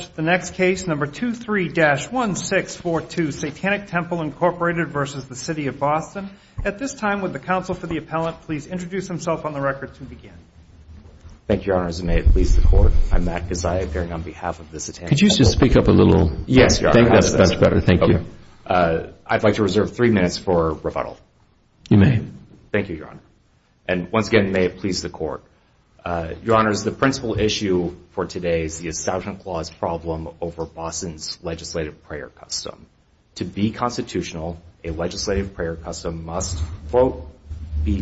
At this time, would the Counsel for the Appellant please introduce himself on the record to begin. Thank you, Your Honor. And may it please the Court, I'm Matt Gazzai, appearing on behalf of the Satanic Temple. Could you just speak up a little? Yes, Your Honor. I think that's better. Thank you. Okay. I'd like to reserve three minutes for rebuttal. You may. Thank you, Your Honor. And once again, may it please the Court, Your Honors, the principal issue for today is the problem over Boston's legislative prayer custom. To be constitutional, a legislative prayer custom must, quote,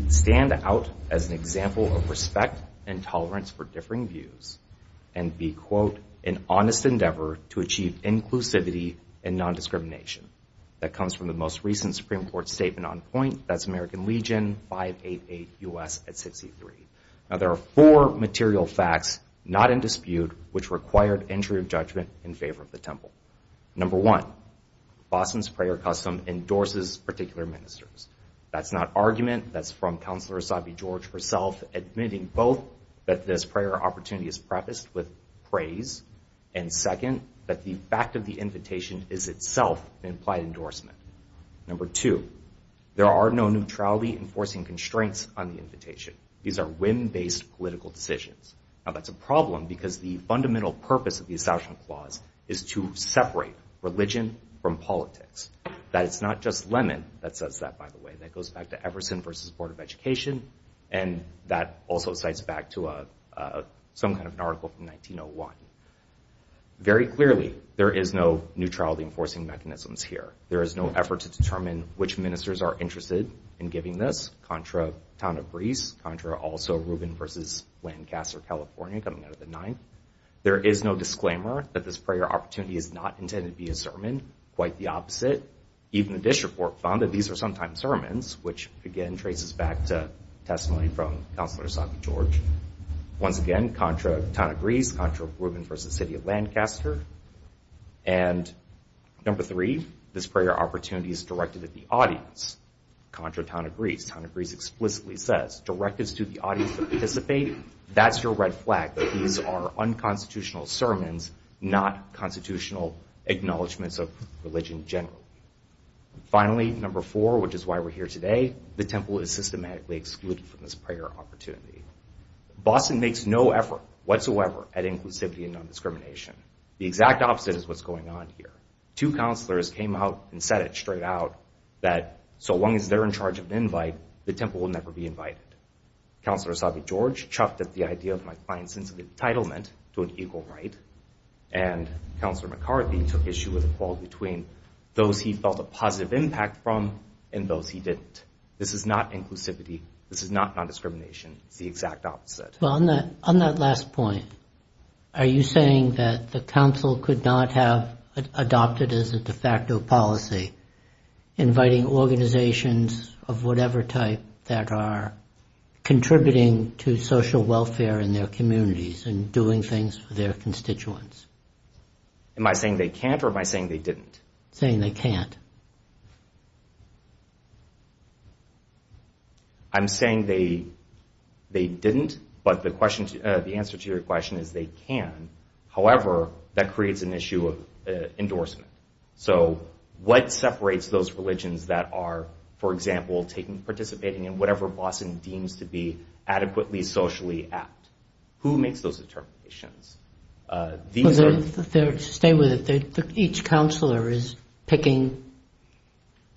stand out as an example of respect and tolerance for differing views and be, quote, an honest endeavor to achieve inclusivity and nondiscrimination. That comes from the most recent Supreme Court statement on point. That's American Legion 588 U.S. at 63. Now, there are four material facts not in dispute which required entry of judgment in favor of the Temple. Number one, Boston's prayer custom endorses particular ministers. That's not argument. That's from Counselor Asabi George herself admitting both that this prayer opportunity is prefaced with praise and, second, that the fact of the invitation is itself an implied endorsement. Number two, there are no neutrality enforcing constraints on the invitation. These are whim-based political decisions. Now, that's a problem because the fundamental purpose of the Assassination Clause is to separate religion from politics. That it's not just Lemon that says that, by the way. That goes back to Everson v. Board of Education. And that also cites back to some kind of an article from 1901. Very clearly, there is no neutrality enforcing mechanisms here. There is no effort to determine which ministers are interested in giving this, Contra, Town of Greece, Contra also Rubin v. Lancaster, California, coming out of the ninth. There is no disclaimer that this prayer opportunity is not intended to be a sermon. Quite the opposite. Even the Dish Report found that these are sometimes sermons, which, again, traces back to testimony from Counselor Asabi George. Once again, Contra, Town of Greece, Contra, Rubin v. City of Lancaster. And, number three, this prayer opportunity is directed at the audience. Contra, Town of Greece. Town of Greece explicitly says, direct this to the audience to participate. That's your red flag. These are unconstitutional sermons, not constitutional acknowledgements of religion generally. Finally, number four, which is why we're here today. The Temple is systematically excluded from this prayer opportunity. Boston makes no effort whatsoever at inclusivity and non-discrimination. The exact opposite is what's going on here. Two counselors came out and said it straight out, that so long as they're in charge of an invite, the Temple will never be invited. Counselor Asabi George chuffed at the idea of my client's sense of entitlement to an equal right, and Counselor McCarthy took issue with a call between those he felt a positive impact from and those he didn't. This is not inclusivity. This is not non-discrimination. It's the exact opposite. On that last point, are you saying that the Council could not have adopted as a de facto policy inviting organizations of whatever type that are contributing to social welfare in their communities and doing things for their constituents? Am I saying they can't or am I saying they didn't? You're saying they can't. I'm saying they didn't, but the answer to your question is they can. However, that creates an issue of endorsement. So what separates those religions that are, for example, participating in whatever Boston deems to be adequately socially apt? Who makes those determinations? Stay with it. Each counselor is picking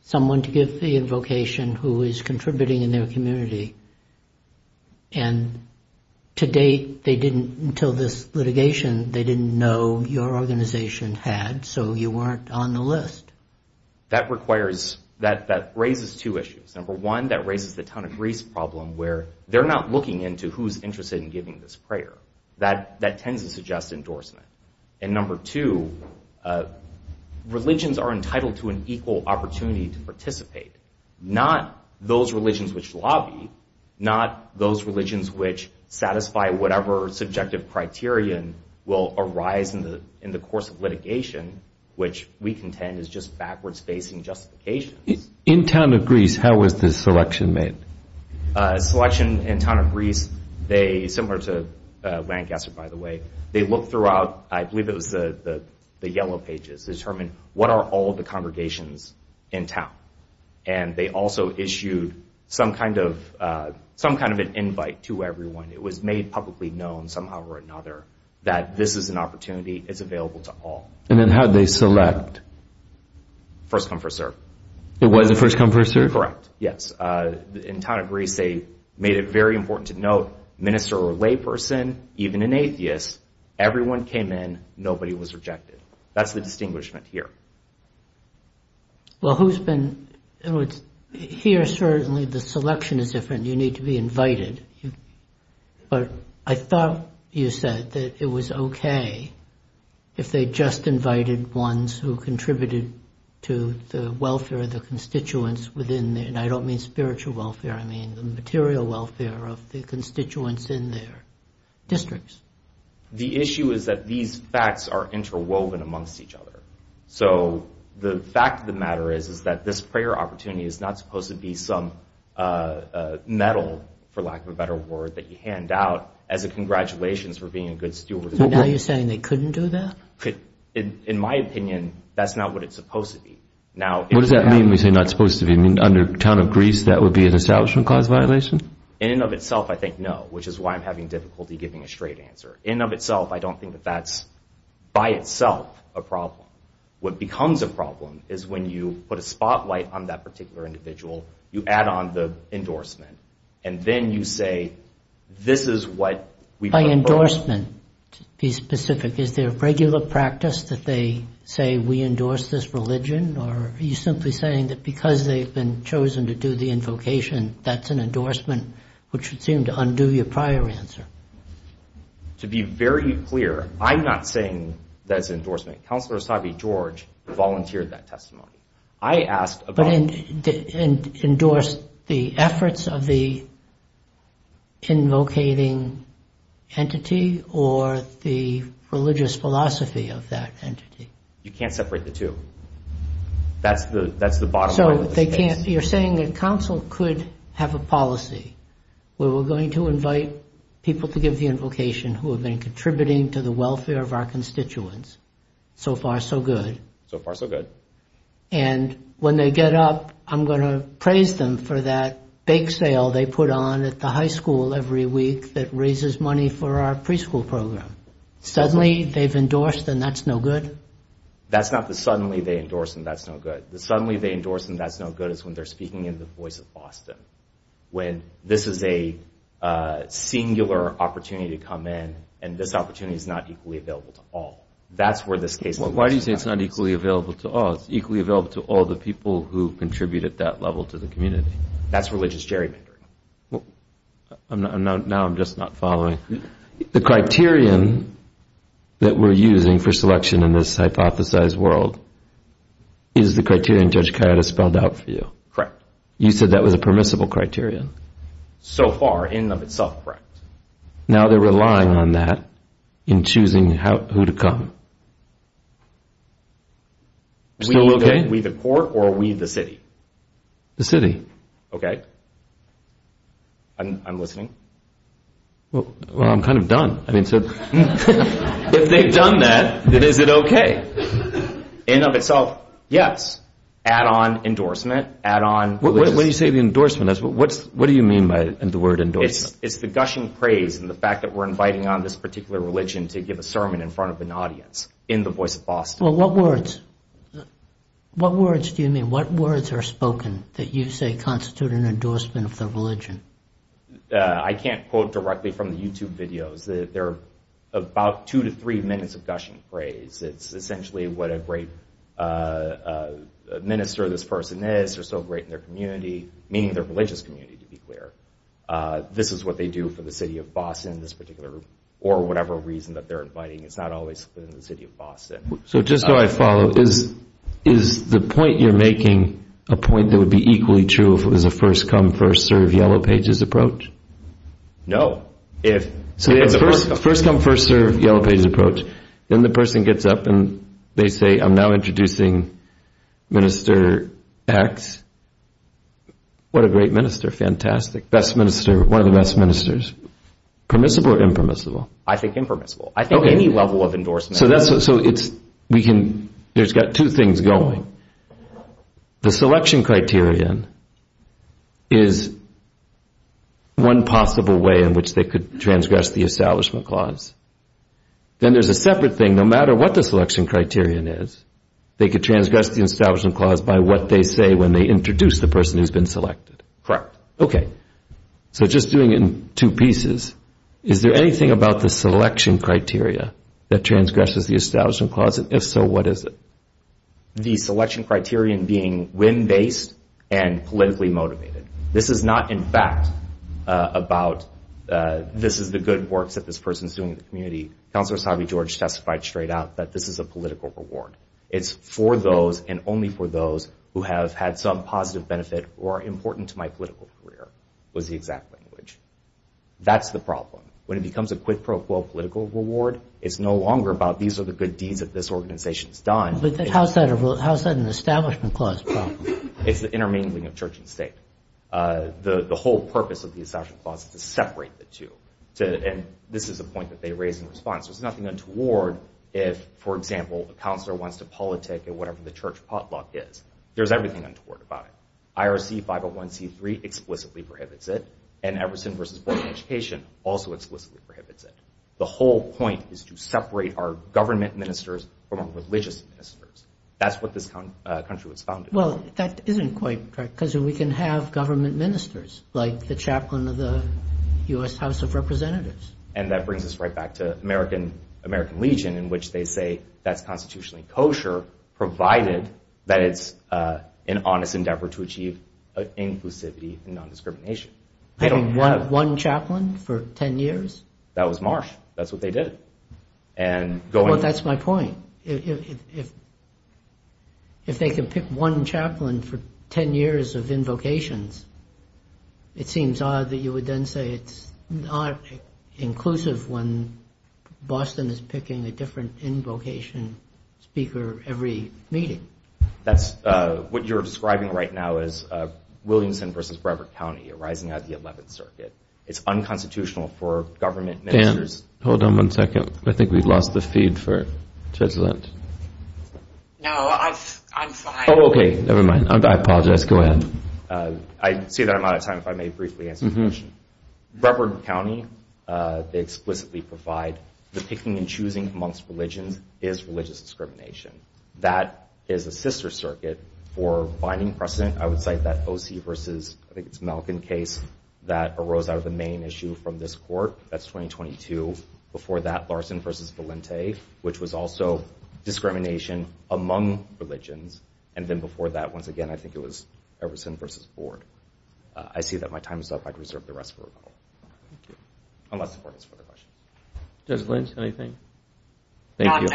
someone to give the invocation who is contributing in their community, and to date they didn't, until this litigation, they didn't know your organization had, so you weren't on the list. That raises two issues. Number one, that raises the town of Greece problem where they're not looking into who's interested in giving this prayer. That tends to suggest endorsement. And number two, religions are entitled to an equal opportunity to participate, not those religions which lobby, not those religions which satisfy whatever subjective criterion will arise in the course of litigation, which we contend is just backwards-facing justifications. In town of Greece, how was this selection made? Selection in town of Greece, they, similar to Lancaster, by the way, they looked throughout, I believe it was the yellow pages, determined what are all the congregations in town, and they also issued some kind of an invite to everyone. It was made publicly known somehow or another that this is an opportunity. It's available to all. And then how did they select? First come, first serve. It was a first come, first serve? Correct, yes. In town of Greece, they made it very important to note minister or layperson, even an atheist, everyone came in, nobody was rejected. That's the distinguishment here. Well, who's been, here certainly the selection is different. You need to be invited. But I thought you said that it was okay if they just invited ones who contributed to the welfare of the spiritual welfare, I mean, the material welfare of the constituents in their districts. The issue is that these facts are interwoven amongst each other. So the fact of the matter is that this prayer opportunity is not supposed to be some medal, for lack of a better word, that you hand out as a congratulations for being a good steward. So now you're saying they couldn't do that? In my opinion, that's not what it's supposed to be. What does that mean when you say not supposed to be? You mean under town of Greece, that would be an establishment cause violation? In and of itself, I think no, which is why I'm having difficulty giving a straight answer. In and of itself, I don't think that that's by itself a problem. What becomes a problem is when you put a spotlight on that particular individual, you add on the endorsement, and then you say this is what we put forth. Endorsement, to be specific. Is there a regular practice that they say we endorse this religion, or are you simply saying that because they've been chosen to do the invocation, that's an endorsement, which would seem to undo your prior answer? To be very clear, I'm not saying that's endorsement. Counselor Asabi George volunteered that testimony. But endorse the efforts of the invocating entity, or the religious philosophy of that entity? You can't separate the two. That's the bottom line of this case. You're saying that counsel could have a policy where we're going to invite people to give the invocation who have been contributing to the welfare of our constituents. So far, so good. So far, so good. And when they get up, I'm going to praise them for that bake sale they put on at the high school every week that raises money for our preschool program. Suddenly, they've endorsed them. That's no good? That's not the suddenly they endorse them. That's no good. The suddenly they endorse them, that's no good, is when they're speaking in the voice of Boston, when this is a singular opportunity to come in, and this opportunity is not equally available to all. Why do you say it's not equally available to all? It's equally available to all the people who contribute at that level to the community. That's religious gerrymandering. Now I'm just not following. The criterion that we're using for selection in this hypothesized world is the criterion Judge Coyote spelled out for you. Correct. You said that was a permissible criterion? So far, in and of itself, correct. Now they're relying on that in choosing who to come. We the court or we the city? The city. Okay. I'm listening. Well, I'm kind of done. If they've done that, then is it okay? In and of itself, yes. Add on endorsement. When you say the endorsement, what do you mean by the word endorsement? It's the gushing praise and the fact that we're inviting on this particular religion to give a sermon in front of an audience in the voice of Boston. Well, what words? What words do you mean? What words are spoken that you say constitute an endorsement of their religion? I can't quote directly from the YouTube videos. They're about two to three minutes of gushing praise. It's essentially what a great minister this person is, because they're so great in their community, meaning their religious community, to be clear. This is what they do for the city of Boston in this particular room, or whatever reason that they're inviting. It's not always within the city of Boston. So just so I follow, is the point you're making a point that would be equally true if it was a first-come, first-served Yellow Pages approach? No. So if it's a first-come, first-served Yellow Pages approach, then the person gets up and they say, I'm now introducing Minister X. What a great minister. Fantastic. Best minister. One of the best ministers. Permissible or impermissible? I think impermissible. I think any level of endorsement. So there's got two things going. The selection criterion is one possible way in which they could transgress the establishment clause. Then there's a separate thing. No matter what the selection criterion is, they could transgress the establishment clause by what they say when they introduce the person who's been selected. Correct. Okay. So just doing it in two pieces, is there anything about the selection criteria that transgresses the establishment clause? If so, what is it? The selection criterion being whim-based and politically motivated. This is not, in fact, about this is the good work that this person is doing in the community. Councilor Savi-George testified straight out that this is a political reward. It's for those and only for those who have had some positive benefit or are important to my political career was the exact language. That's the problem. When it becomes a quid pro quo political reward, it's no longer about these are the good deeds that this organization has done. How is that an establishment clause problem? It's the intermingling of church and state. The whole purpose of the establishment clause is to separate the two. And this is a point that they raised in response. There's nothing untoward if, for example, a councilor wants to politic at whatever the church potluck is. There's everything untoward about it. IRC 501c3 explicitly prohibits it, and Everson v. Board of Education also explicitly prohibits it. The whole point is to separate our government ministers from our religious ministers. That's what this country was founded on. Well, that isn't quite right because we can have government ministers like the chaplain of the U.S. House of Representatives. And that brings us right back to American Legion, in which they say that's constitutionally kosher provided that it's an honest endeavor to achieve inclusivity and non-discrimination. I mean, one chaplain for 10 years? That was Marsh. That's what they did. Well, that's my point. Well, if they can pick one chaplain for 10 years of invocations, it seems odd that you would then say it's not inclusive when Boston is picking a different invocation speaker every meeting. That's what you're describing right now as Williamson v. Brevard County arising out of the 11th Circuit. It's unconstitutional for government ministers. Dan, hold on one second. I think we've lost the feed for Judge Lynch. No, I'm fine. Oh, okay, never mind. I apologize. Go ahead. I see that I'm out of time. If I may briefly answer the question. Brevard County, they explicitly provide that picking and choosing amongst religions is religious discrimination. That is a sister circuit for binding precedent. I would cite that O.C. v. Malcon case that arose out of the main issue from this court. That's 2022. Before that, Larson v. Valente, which was also discrimination among religions. And then before that, once again, I think it was Everson v. Ford. I see that my time is up. I'd reserve the rest for recall. Thank you. Unless the court has further questions. Judge Lynch, anything? Thank you.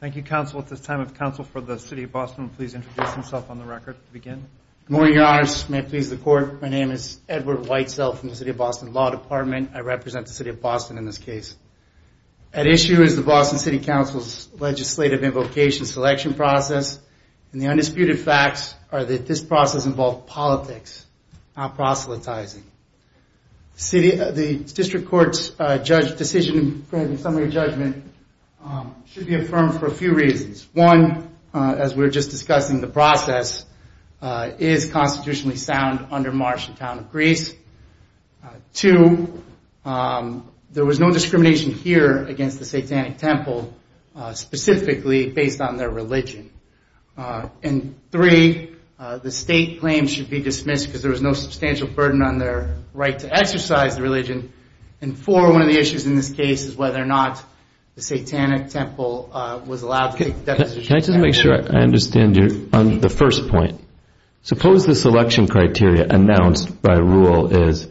Thank you, counsel. At this time, if counsel for the City of Boston Good morning, Your Honor. May it please the Court. My name is Edward Whitesell from the City of Boston Law Department. I represent the City of Boston in this case. At issue is the Boston City Council's legislative invocation selection process. And the undisputed facts are that this process involved politics, not proselytizing. The District Court's decision in summary judgment should be affirmed for a few reasons. One, as we were just discussing, the process is constitutionally sound under Martian Town of Greece. Two, there was no discrimination here against the Satanic Temple, specifically based on their religion. And three, the state claim should be dismissed because there was no substantial burden on their right to exercise the religion. And four, one of the issues in this case is whether or not the Satanic Temple was allowed to take the deposition. Can I just make sure I understand the first point? Suppose the selection criteria announced by rule is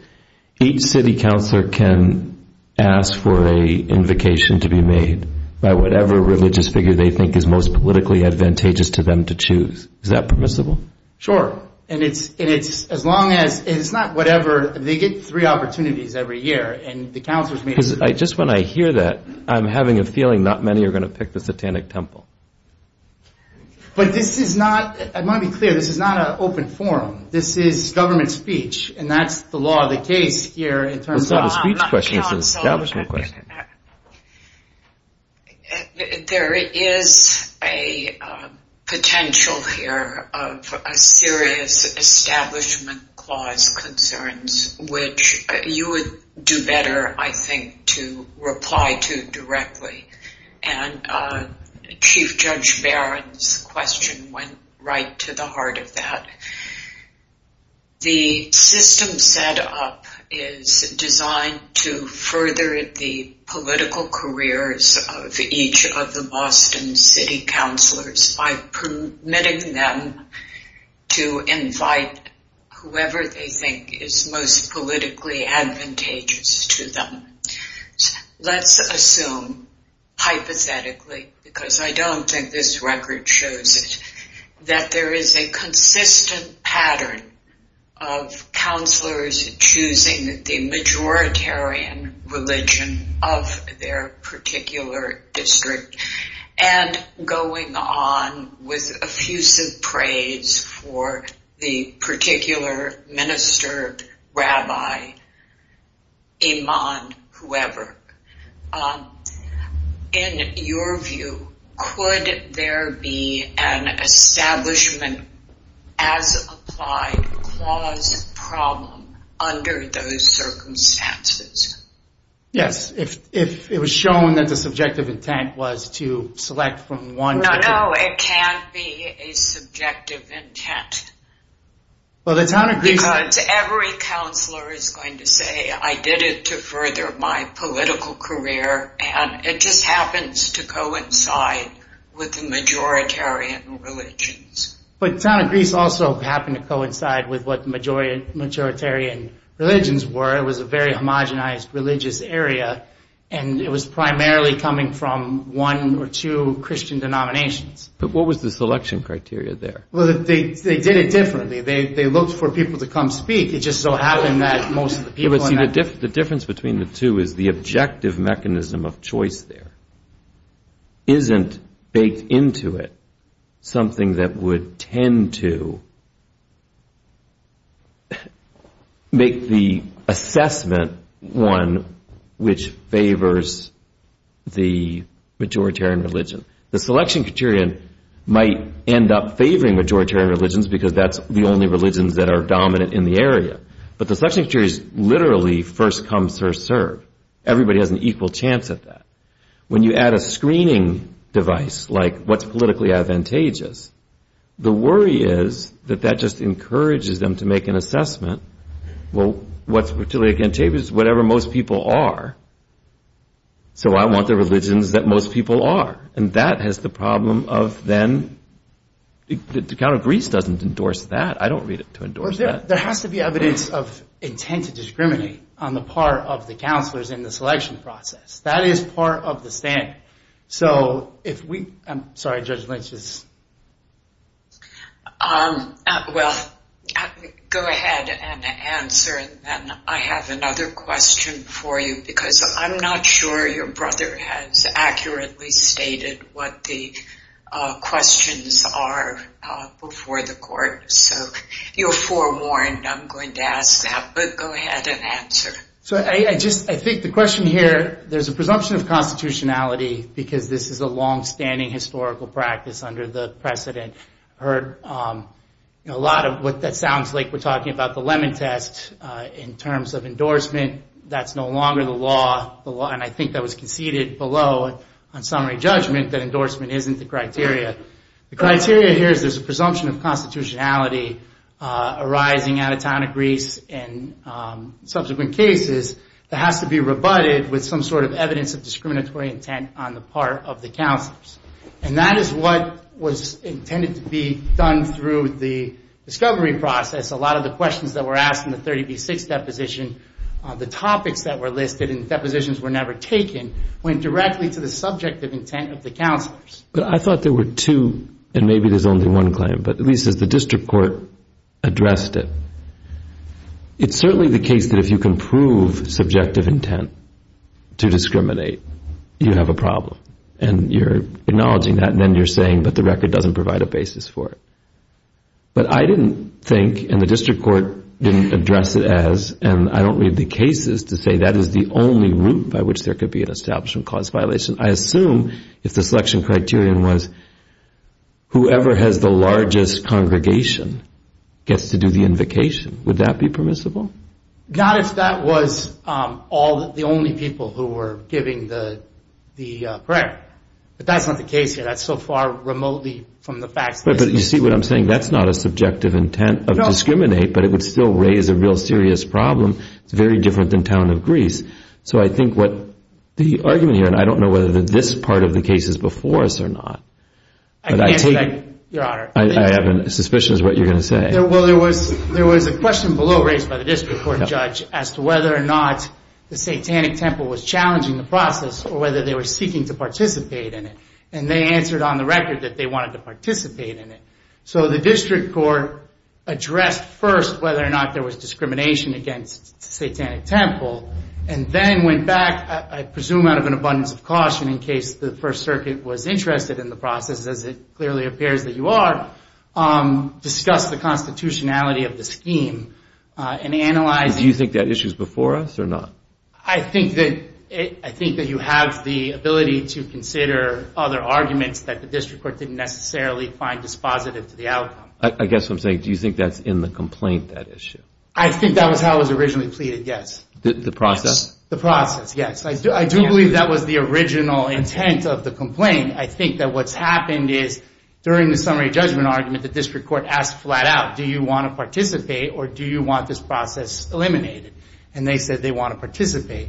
each city counselor can ask for an invocation to be made by whatever religious figure they think is most politically advantageous to them to choose. Is that permissible? Sure. And it's not whatever. They get three opportunities every year. And the counselors may choose. Because just when I hear that, I'm having a feeling not many are going to pick the Satanic Temple. But this is not, I want to be clear, this is not an open forum. This is government speech. And that's the law of the case here. It's not a speech question. It's an establishment question. There is a potential here of a serious establishment clause concerns, which you would do better, I think, to reply to directly. And Chief Judge Barron's question went right to the heart of that. The system set up is designed to further the political careers of each of the Boston city counselors by permitting them to invite whoever they think is most politically advantageous to them. Let's assume, hypothetically, because I don't think this record shows it, that there is a consistent pattern of counselors choosing the majoritarian religion of their particular district and going on with effusive praise for the particular minister, rabbi, imam, whoever. In your view, could there be an establishment as applied clause problem under those circumstances? Yes, if it was shown that the subjective intent was to select from one. No, no, it can't be a subjective intent. Because every counselor is going to say, I did it to further my political career, and it just happens to coincide with the majoritarian religions. But the town of Greece also happened to coincide with what the majoritarian religions were. It was a very homogenized religious area, and it was primarily coming from one or two Christian denominations. But what was the selection criteria there? Well, they did it differently. They looked for people to come speak. It just so happened that most of the people in that... But see, the difference between the two is the objective mechanism of choice there isn't baked into it something that would tend to make the assessment one which favors the majoritarian religion. The selection criterion might end up favoring majoritarian religions because that's the only religions that are dominant in the area. But the selection criteria is literally first come, first served. Everybody has an equal chance at that. When you add a screening device, like what's politically advantageous, the worry is that that just encourages them to make an assessment. Well, what's particularly advantageous is whatever most people are. So I want the religions that most people are. And that has the problem of then... The town of Greece doesn't endorse that. I don't read it to endorse that. There has to be evidence of intent to discriminate on the part of the counselors in the selection process. That is part of the stand. So if we... I'm sorry, Judge Lynch is... Well, go ahead and answer and then I have another question for you because I'm not sure your brother has accurately stated what the questions are before the court. So you're forewarned. I'm going to ask that, but go ahead and answer. So I just... I think the question here... There's a presumption of constitutionality because this is a long-standing historical practice under the precedent. I heard a lot of what that sounds like. We're talking about the Lemon Test in terms of endorsement. That's no longer the law. And I think that was conceded below on summary judgment that endorsement isn't the criteria. The criteria here is there's a presumption of constitutionality arising out of town of Greece and subsequent cases that has to be rebutted with some sort of evidence of discriminatory intent on the part of the counselors. And that is what was intended to be done through the discovery process. A lot of the questions that were asked in the 30B6 deposition, the topics that were listed in the depositions were never taken, went directly to the subjective intent of the counselors. But I thought there were two, and maybe there's only one claim, but at least as the district court addressed it, it's certainly the case that if you can prove subjective intent to discriminate, you have a problem. And you're acknowledging that, and then you're saying, but the record doesn't provide a basis for it. But I didn't think, and the district court didn't address it as, and I don't read the cases to say that is the only route by which there could be an establishment clause violation. I assume if the selection criterion was whoever has the largest congregation gets to do the invocation. Would that be permissible? Not if that was the only people who were giving the prayer. But that's not the case here. That's so far remotely from the facts. But you see what I'm saying? That's not a subjective intent of discriminate, but it would still raise a real serious problem. It's very different than town of Greece. So I think what the argument here, and I don't know whether this part of the case is before us or not. Your Honor. I have a suspicion is what you're going to say. Well, there was a question below raised by the district court judge as to whether or not the satanic temple was challenging the process or whether they were seeking to participate in it. And they answered on the record that they wanted to participate in it. So the district court addressed first whether or not there was discrimination against the satanic temple. And then went back, I presume out of an abundance of caution, in case the First Circuit was interested in the process, as it clearly appears that you are, discussed the constitutionality of the scheme and analyzed it. Do you think that issue is before us or not? I think that you have the ability to consider other arguments that the district court didn't necessarily find dispositive to the outcome. I guess what I'm saying, do you think that's in the complaint, that issue? I think that was how it was originally pleaded, yes. The process? The process, yes. I do believe that was the original intent of the complaint. I think that what's happened is during the summary judgment argument, the district court asked flat out, do you want to participate or do you want this process eliminated? And they said they want to participate.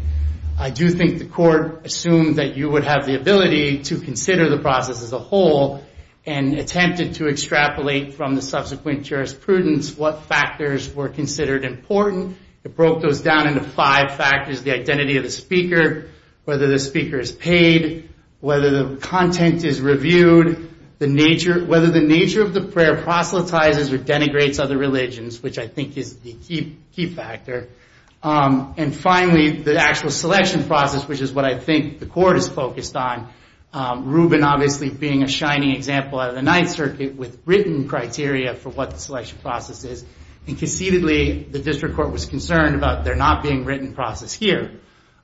I do think the court assumed that you would have the ability to consider the process as a whole and attempted to extrapolate from the subsequent jurisprudence what factors were considered important. It broke those down into five factors, the identity of the speaker, whether the speaker is paid, whether the content is reviewed, whether the nature of the prayer proselytizes or denigrates other religions, which I think is the key factor. And finally, the actual selection process, which is what I think the court is focused on, Rubin obviously being a shining example out of the Ninth Circuit with written criteria for what the selection process is, and conceitedly the district court was concerned about there not being written process here.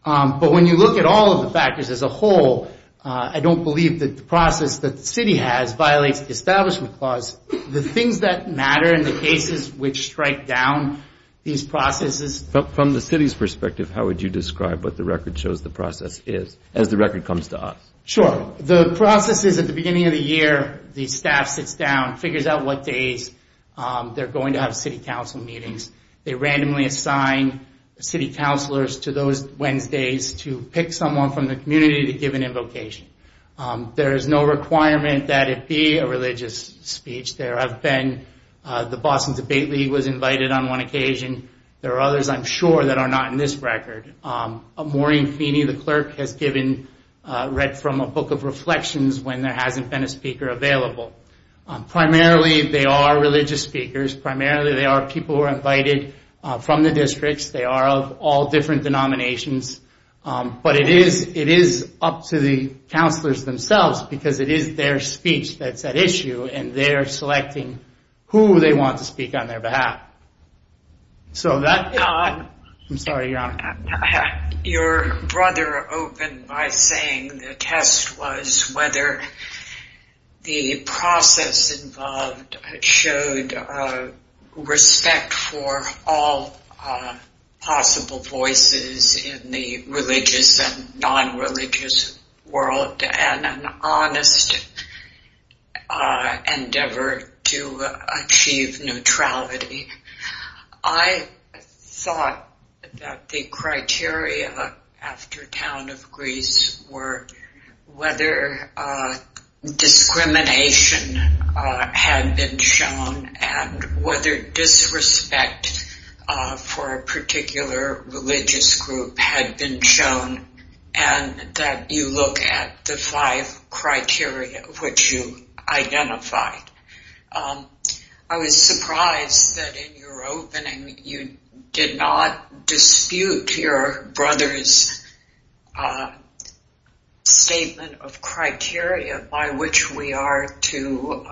But when you look at all of the factors as a whole, I don't believe that the process that the city has violates the establishment clause. The things that matter in the cases which strike down these processes. From the city's perspective, how would you describe what the record shows the process is as the record comes to us? Sure. The process is at the beginning of the year, the staff sits down, figures out what days they're going to have city council meetings. They randomly assign city councilors to those Wednesdays to pick someone from the community to give an invocation. There is no requirement that it be a religious speech. There have been, the Boston Debate League was invited on one occasion. There are others I'm sure that are not in this record. Maureen Feeney, the clerk, has given, read from a book of reflections when there hasn't been a speaker available. Primarily, they are religious speakers. Primarily, they are people who are invited from the districts. They are of all different denominations. But it is up to the councilors themselves because it is their speech that's at issue and they're selecting who they want to speak on their behalf. So that... I'm sorry, Your Honor. Your brother opened by saying the test was whether the process involved showed respect for all possible voices in the religious and non-religious world and an honest endeavor to achieve neutrality. I thought that the criteria after Town of Greece were whether discrimination had been shown and whether disrespect for a particular religious group had been shown and that you look at the five criteria which you identified. I was surprised that in your opening you did not dispute your brother's statement of criteria by which we are to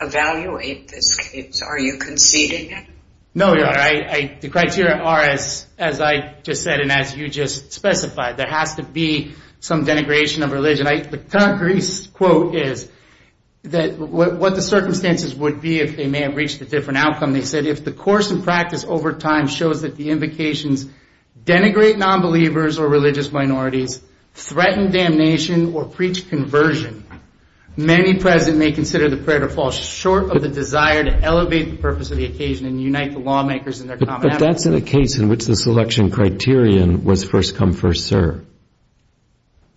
evaluate this case. Are you conceding it? No, Your Honor. The criteria are as I just said and as you just specified. There has to be some denigration of religion. The Town of Greece quote is that what the circumstances would be if they may have reached a different outcome. They said, If the course and practice over time shows that the invocations denigrate nonbelievers or religious minorities, threaten damnation or preach conversion, many present may consider the prayer to fall short of the desire to elevate the purpose of the occasion and unite the lawmakers in their common advocacy. But that's in a case in which the selection criterion was first come, first serve.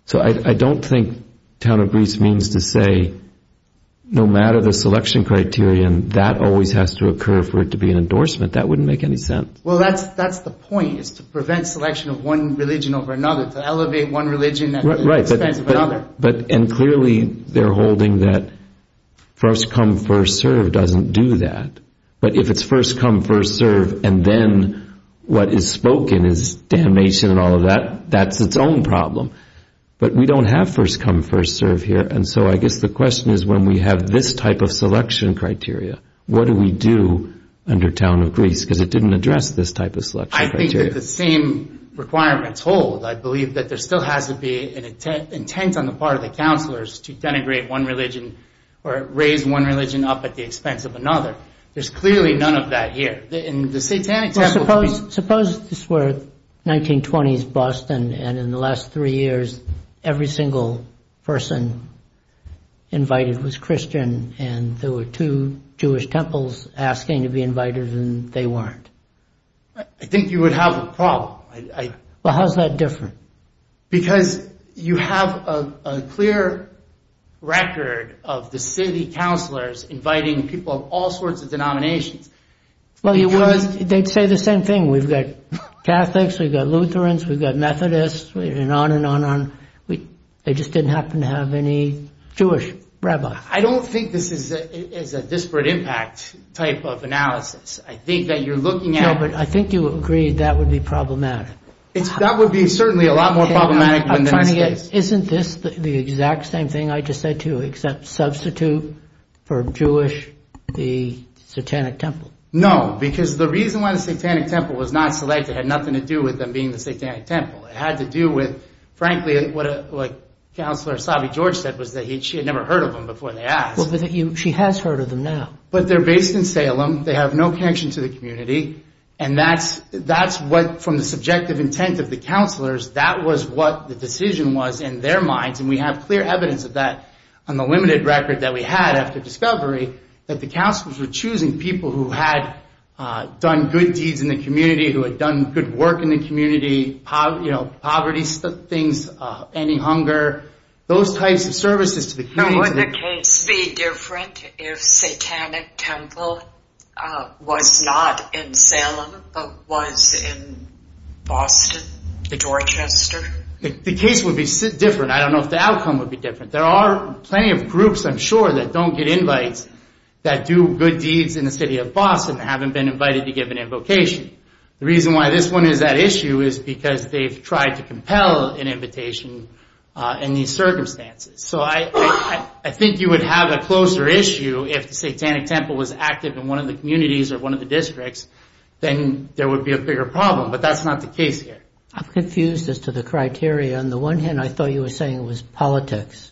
So I don't think Town of Greece means to say no matter the selection criterion, that always has to occur for it to be an endorsement. That wouldn't make any sense. Well, that's the point. It's to prevent selection of one religion over another. To elevate one religion at the expense of another. Right. And clearly they're holding that first come, first serve doesn't do that. But if it's first come, first serve and then what is spoken is damnation and all of that, that's its own problem. But we don't have first come, first serve here. And so I guess the question is, when we have this type of selection criteria, what do we do under Town of Greece? Because it didn't address this type of selection criteria. I think that the same requirements hold. I believe that there still has to be an intent on the part of the counselors to denigrate one religion or raise one religion up at the expense of another. There's clearly none of that here. Suppose this were 1920s Boston and in the last three years every single person invited was Christian and there were two Jewish temples asking to be invited and they weren't. I think you would have a problem. How's that different? Because you have a clear record of the city counselors inviting people of all sorts of denominations. They'd say the same thing. We've got Catholics, we've got Lutherans, we've got Methodists, and on and on and on. They just didn't happen to have any Jewish rabbis. I don't think this is a disparate impact type of analysis. I think that you're looking at... No, but I think you agree that would be problematic. That would be certainly a lot more problematic than this case. Isn't this the exact same thing I just said to you as a substitute for Jewish, the satanic temple? No, because the reason why the satanic temple was not selected had nothing to do with them being the satanic temple. It had to do with, frankly, what Counselor Savi-George said was that she had never heard of them before they asked. She has heard of them now. But they're based in Salem, they have no connection to the community, and that's what, from the subjective intent of the counselors, that was what the decision was in their minds and we have clear evidence of that on the limited record that we had after discovery that the counselors were choosing people who had done good deeds in the community, who had done good work in the community, poverty things, any hunger, those types of services to the community. Now, would the case be different if satanic temple was not in Salem but was in Boston, the Dorchester? The case would be different. I don't know if the outcome would be different. There are plenty of groups, I'm sure, that don't get invites that do good deeds in the city of Boston and haven't been invited to give an invocation. The reason why this one is that issue is because they've tried to compel an invitation in these circumstances. So I think you would have a closer issue if the satanic temple was active in one of the communities or one of the districts, then there would be a bigger problem. But that's not the case here. I'm confused as to the criteria. On the one hand, I thought you were saying it was politics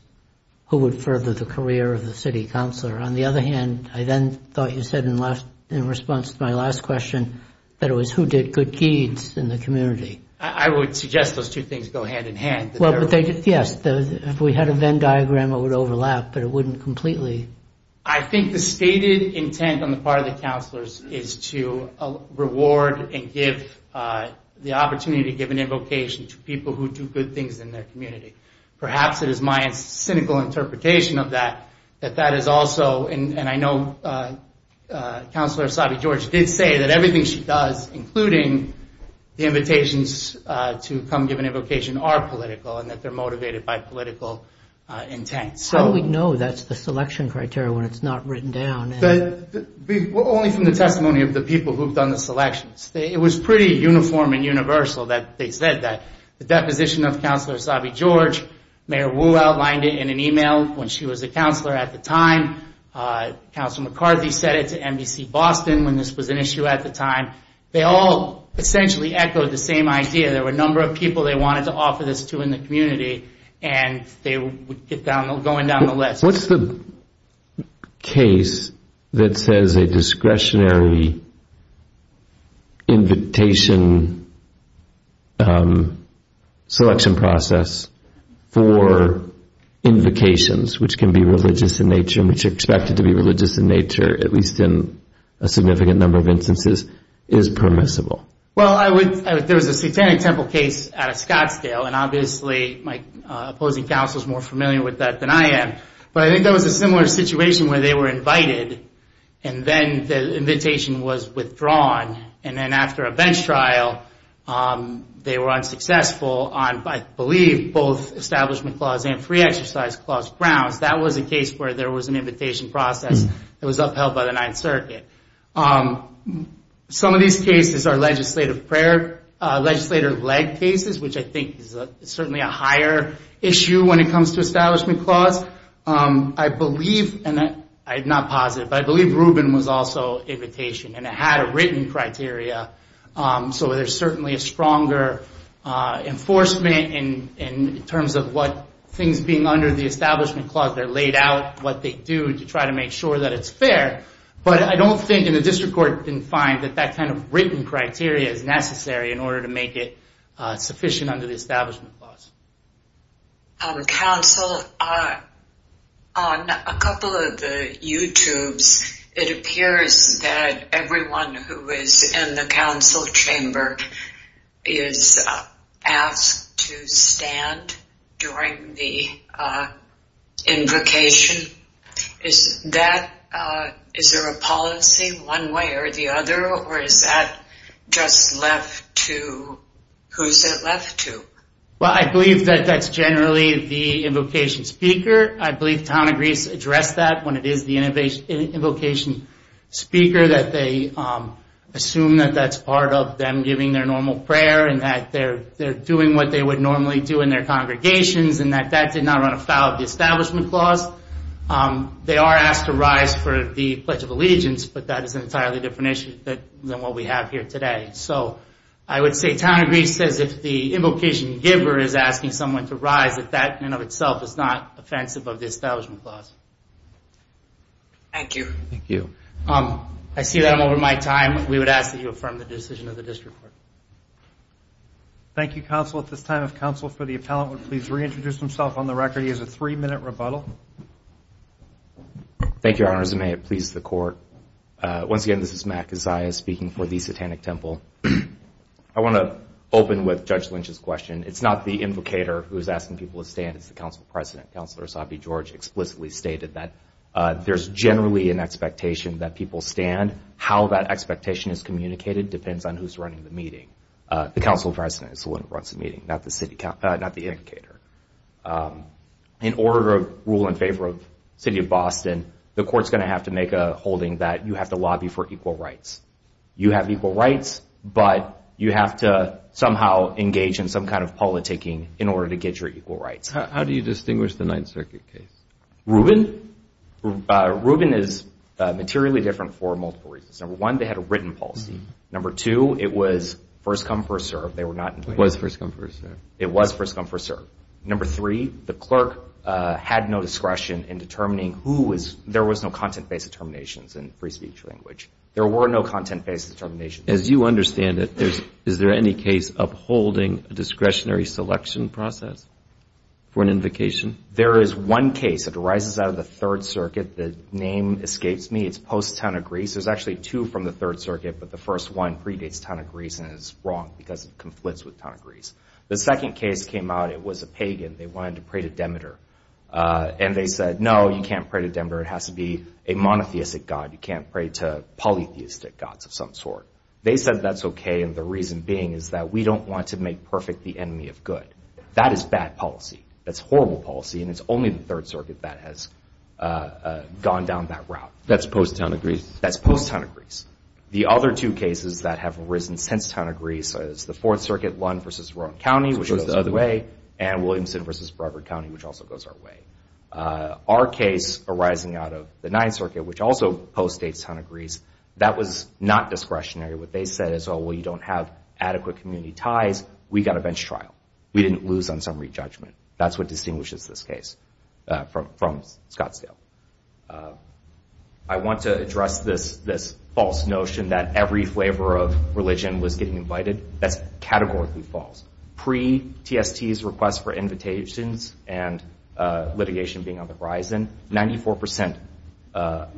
who would further the career of the city counselor. On the other hand, I then thought you said in response to my last question that it was who did good deeds in the community. I would suggest those two things go hand in hand. Yes, if we had a Venn diagram, it would overlap, but it wouldn't completely. I think the stated intent on the part of the counselors is to reward and give the opportunity to give an invocation to people who do good things in their community. Perhaps it is my cynical interpretation of that, that that is also, and I know Counselor Asabi-George did say that everything she does, including the invitations to come give an invocation, are political and that they're motivated by political intent. How do we know that's the selection criteria when it's not written down? Only from the testimony of the people who've done the selections. It was pretty uniform and universal that they said that. The deposition of Counselor Asabi-George, Mayor Wu outlined it in an email when she was a counselor at the time. Counselor McCarthy said it to NBC Boston when this was an issue at the time. They all essentially echoed the same idea. There were a number of people they wanted to offer this to in the community and they were going down the list. What's the case that says a discretionary invitation selection process for invocations, which can be religious in nature and which are expected to be religious in nature, at least in a significant number of instances, is permissible? There was a Satanic Temple case at Scottsdale, and obviously my opposing counsel is more familiar with that than I am. But I think there was a similar situation where they were invited and then the invitation was withdrawn. And then after a bench trial, they were unsuccessful on, I believe, both Establishment Clause and Free Exercise Clause grounds. That was a case where there was an invitation process that was upheld by the Ninth Circuit. Some of these cases are legislative leg cases, which I think is certainly a higher issue when it comes to Establishment Clause. I believe, and I'm not positive, but I believe Rubin was also invitation and it had a written criteria, so there's certainly a stronger enforcement in terms of what things being under the Establishment Clause, they're laid out, what they do to try to make sure that it's fair. But I don't think, and the District Court didn't find, that that kind of written criteria is necessary in order to make it sufficient under the Establishment Clause. Counsel, on a couple of the YouTubes, it appears that everyone who is in the council chamber is asked to stand during the invocation. Is that, is there a policy one way or the other, or is that just left to, who is it left to? Well, I believe that that's generally the invocation speaker. I believe Tom agrees to address that when it is the invocation speaker, that they assume that that's part of them giving their normal prayer and that they're doing what they would normally do in their congregations and that that did not run afoul of the Establishment Clause. They are asked to rise for the Pledge of Allegiance, but that is an entirely different issue than what we have here today. So I would say Tom agrees, says if the invocation giver is asking someone to rise, that that in and of itself is not offensive of the Establishment Clause. Thank you. I see that I'm over my time. Thank you, Counsel. At this time, if Counsel for the Appellant would please reintroduce himself on the record. He has a three-minute rebuttal. Thank you, Your Honors. May it please the Court. Once again, this is Matt Keziah speaking for the Satanic Temple. I want to open with Judge Lynch's question. It's not the invocator who's asking people to stand, it's the Council President. Counselor Asabi George explicitly stated that there's generally an expectation that people stand. How that expectation is communicated depends on who's running the meeting. The Council President is the one who runs the meeting, not the invocator. In order to rule in favor of the City of Boston, the Court's going to have to make a holding that you have to lobby for equal rights. You have equal rights, but you have to somehow engage in some kind of politicking in order to get your equal rights. How do you distinguish the Ninth Circuit case? Rubin? Rubin is materially different for multiple reasons. Number one, they had a written policy. Number two, it was first come, first served. It was first come, first served. It was first come, first served. Number three, the clerk had no discretion in determining who was there was no content-based determinations in free speech language. There were no content-based determinations. As you understand it, is there any case of holding a discretionary selection process for an invocation? There is one case that arises out of the Third Circuit. The name escapes me. It's Post Town of Greece. There's actually two from the Third Circuit, but the first one predates Town of Greece and is wrong because it conflicts with Town of Greece. The second case came out. It was a pagan. They wanted to pray to Demeter, and they said, no, you can't pray to Demeter. It has to be a monotheistic god. You can't pray to polytheistic gods of some sort. They said that's okay, and the reason being is that we don't want to make perfect the enemy of good. That is bad policy. and it's only the Third Circuit that has gone down that route. That's Post Town of Greece? That's Post Town of Greece. The other two cases that have arisen since Town of Greece is the Fourth Circuit, Lund v. Rowan County, which goes the other way, and Williamson v. Brevard County, which also goes our way. Our case arising out of the Ninth Circuit, which also postdates Town of Greece, that was not discretionary. What they said is, oh, well, you don't have adequate community ties. We got a bench trial. We didn't lose on summary judgment. That's what distinguishes this case from Scottsdale. I want to address this false notion that every flavor of religion was getting invited. That's categorically false. Pre-TST's request for invitations and litigation being on the horizon, 94%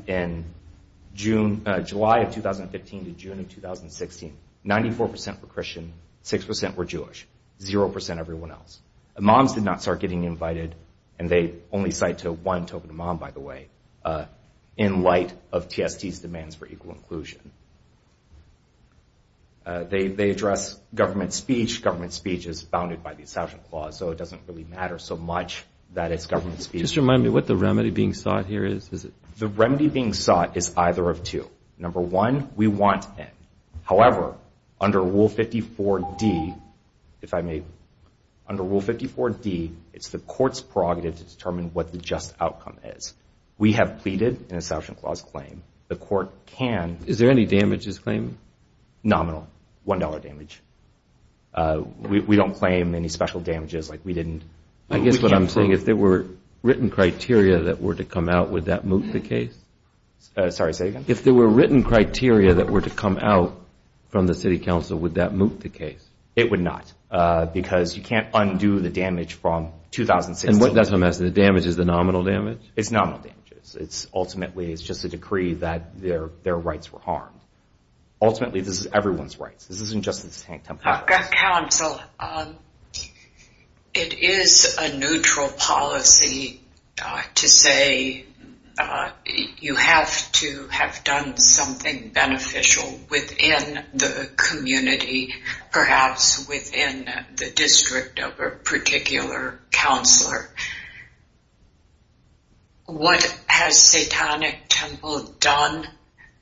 in July of 2015 to June of 2016, 94% were Christian, 6% were Jewish, 0% everyone else. Imams did not start getting invited, and they only cite to one, Tobin Imam, by the way, in light of TST's demands for equal inclusion. They address government speech. Government speech is bounded by the Assassination Clause, so it doesn't really matter so much that it's government speech. Just remind me what the remedy being sought here is. The remedy being sought is either of two. Number one, we want in. However, under Rule 54D, if I may, under Rule 54D, it's the court's prerogative to determine what the just outcome is. We have pleaded an Assassination Clause claim. The court can... Is there any damages claim? Nominal. $1 damage. We don't claim any special damages like we didn't... I guess what I'm saying, if there were written criteria that were to come out, would that move the case? Sorry, say again? If there were written criteria that were to come out from the city council, would that move the case? It would not. Because you can't undo the damage from 2006. And that's what I'm asking. The damage is the nominal damage? It's nominal damages. Ultimately, it's just a decree that their rights were harmed. Ultimately, this is everyone's rights. This isn't just the Tampa Harris. Counsel, to say you have to have done something beneficial within the community, perhaps within the district of a particular counselor, what has Satanic Temple done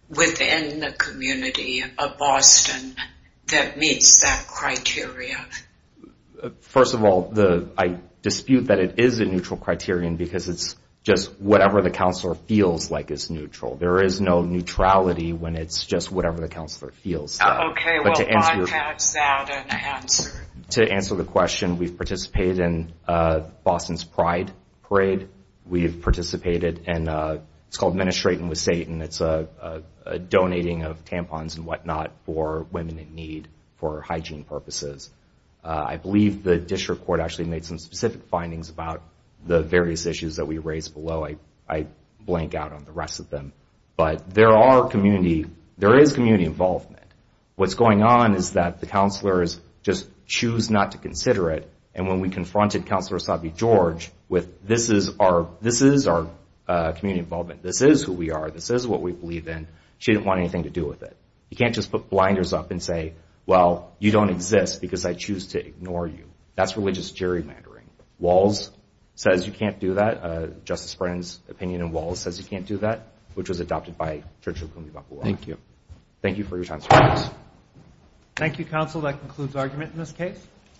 within the community of Boston that meets that criteria? First of all, I dispute that it is a neutral criterion because it's just whatever the counselor feels like is neutral. There is no neutrality when it's just whatever the counselor feels. Okay, well, why pass out an answer? To answer the question, we've participated in Boston's Pride Parade. We've participated in, it's called Ministrating with Satan. It's a donating of tampons and whatnot for women in need for hygiene purposes. I believe the district court actually made some specific findings about the various issues that we raised below. I blank out on the rest of them. But there are community, there is community involvement. What's going on is that the counselors just choose not to consider it. And when we confronted Counselor Sabi George with this is our community involvement, this is who we are, this is what we believe in, she didn't want anything to do with it. You can't just put blinders up and say, well, you don't exist because I choose to ignore you. That's religious gerrymandering. Walls says you can't do that. Justice Brennan's opinion in Walls says you can't do that, which was adopted by Church of Cumbia Bapua. Thank you. Thank you for your time, sir. Thank you, Counsel. That concludes argument in this case.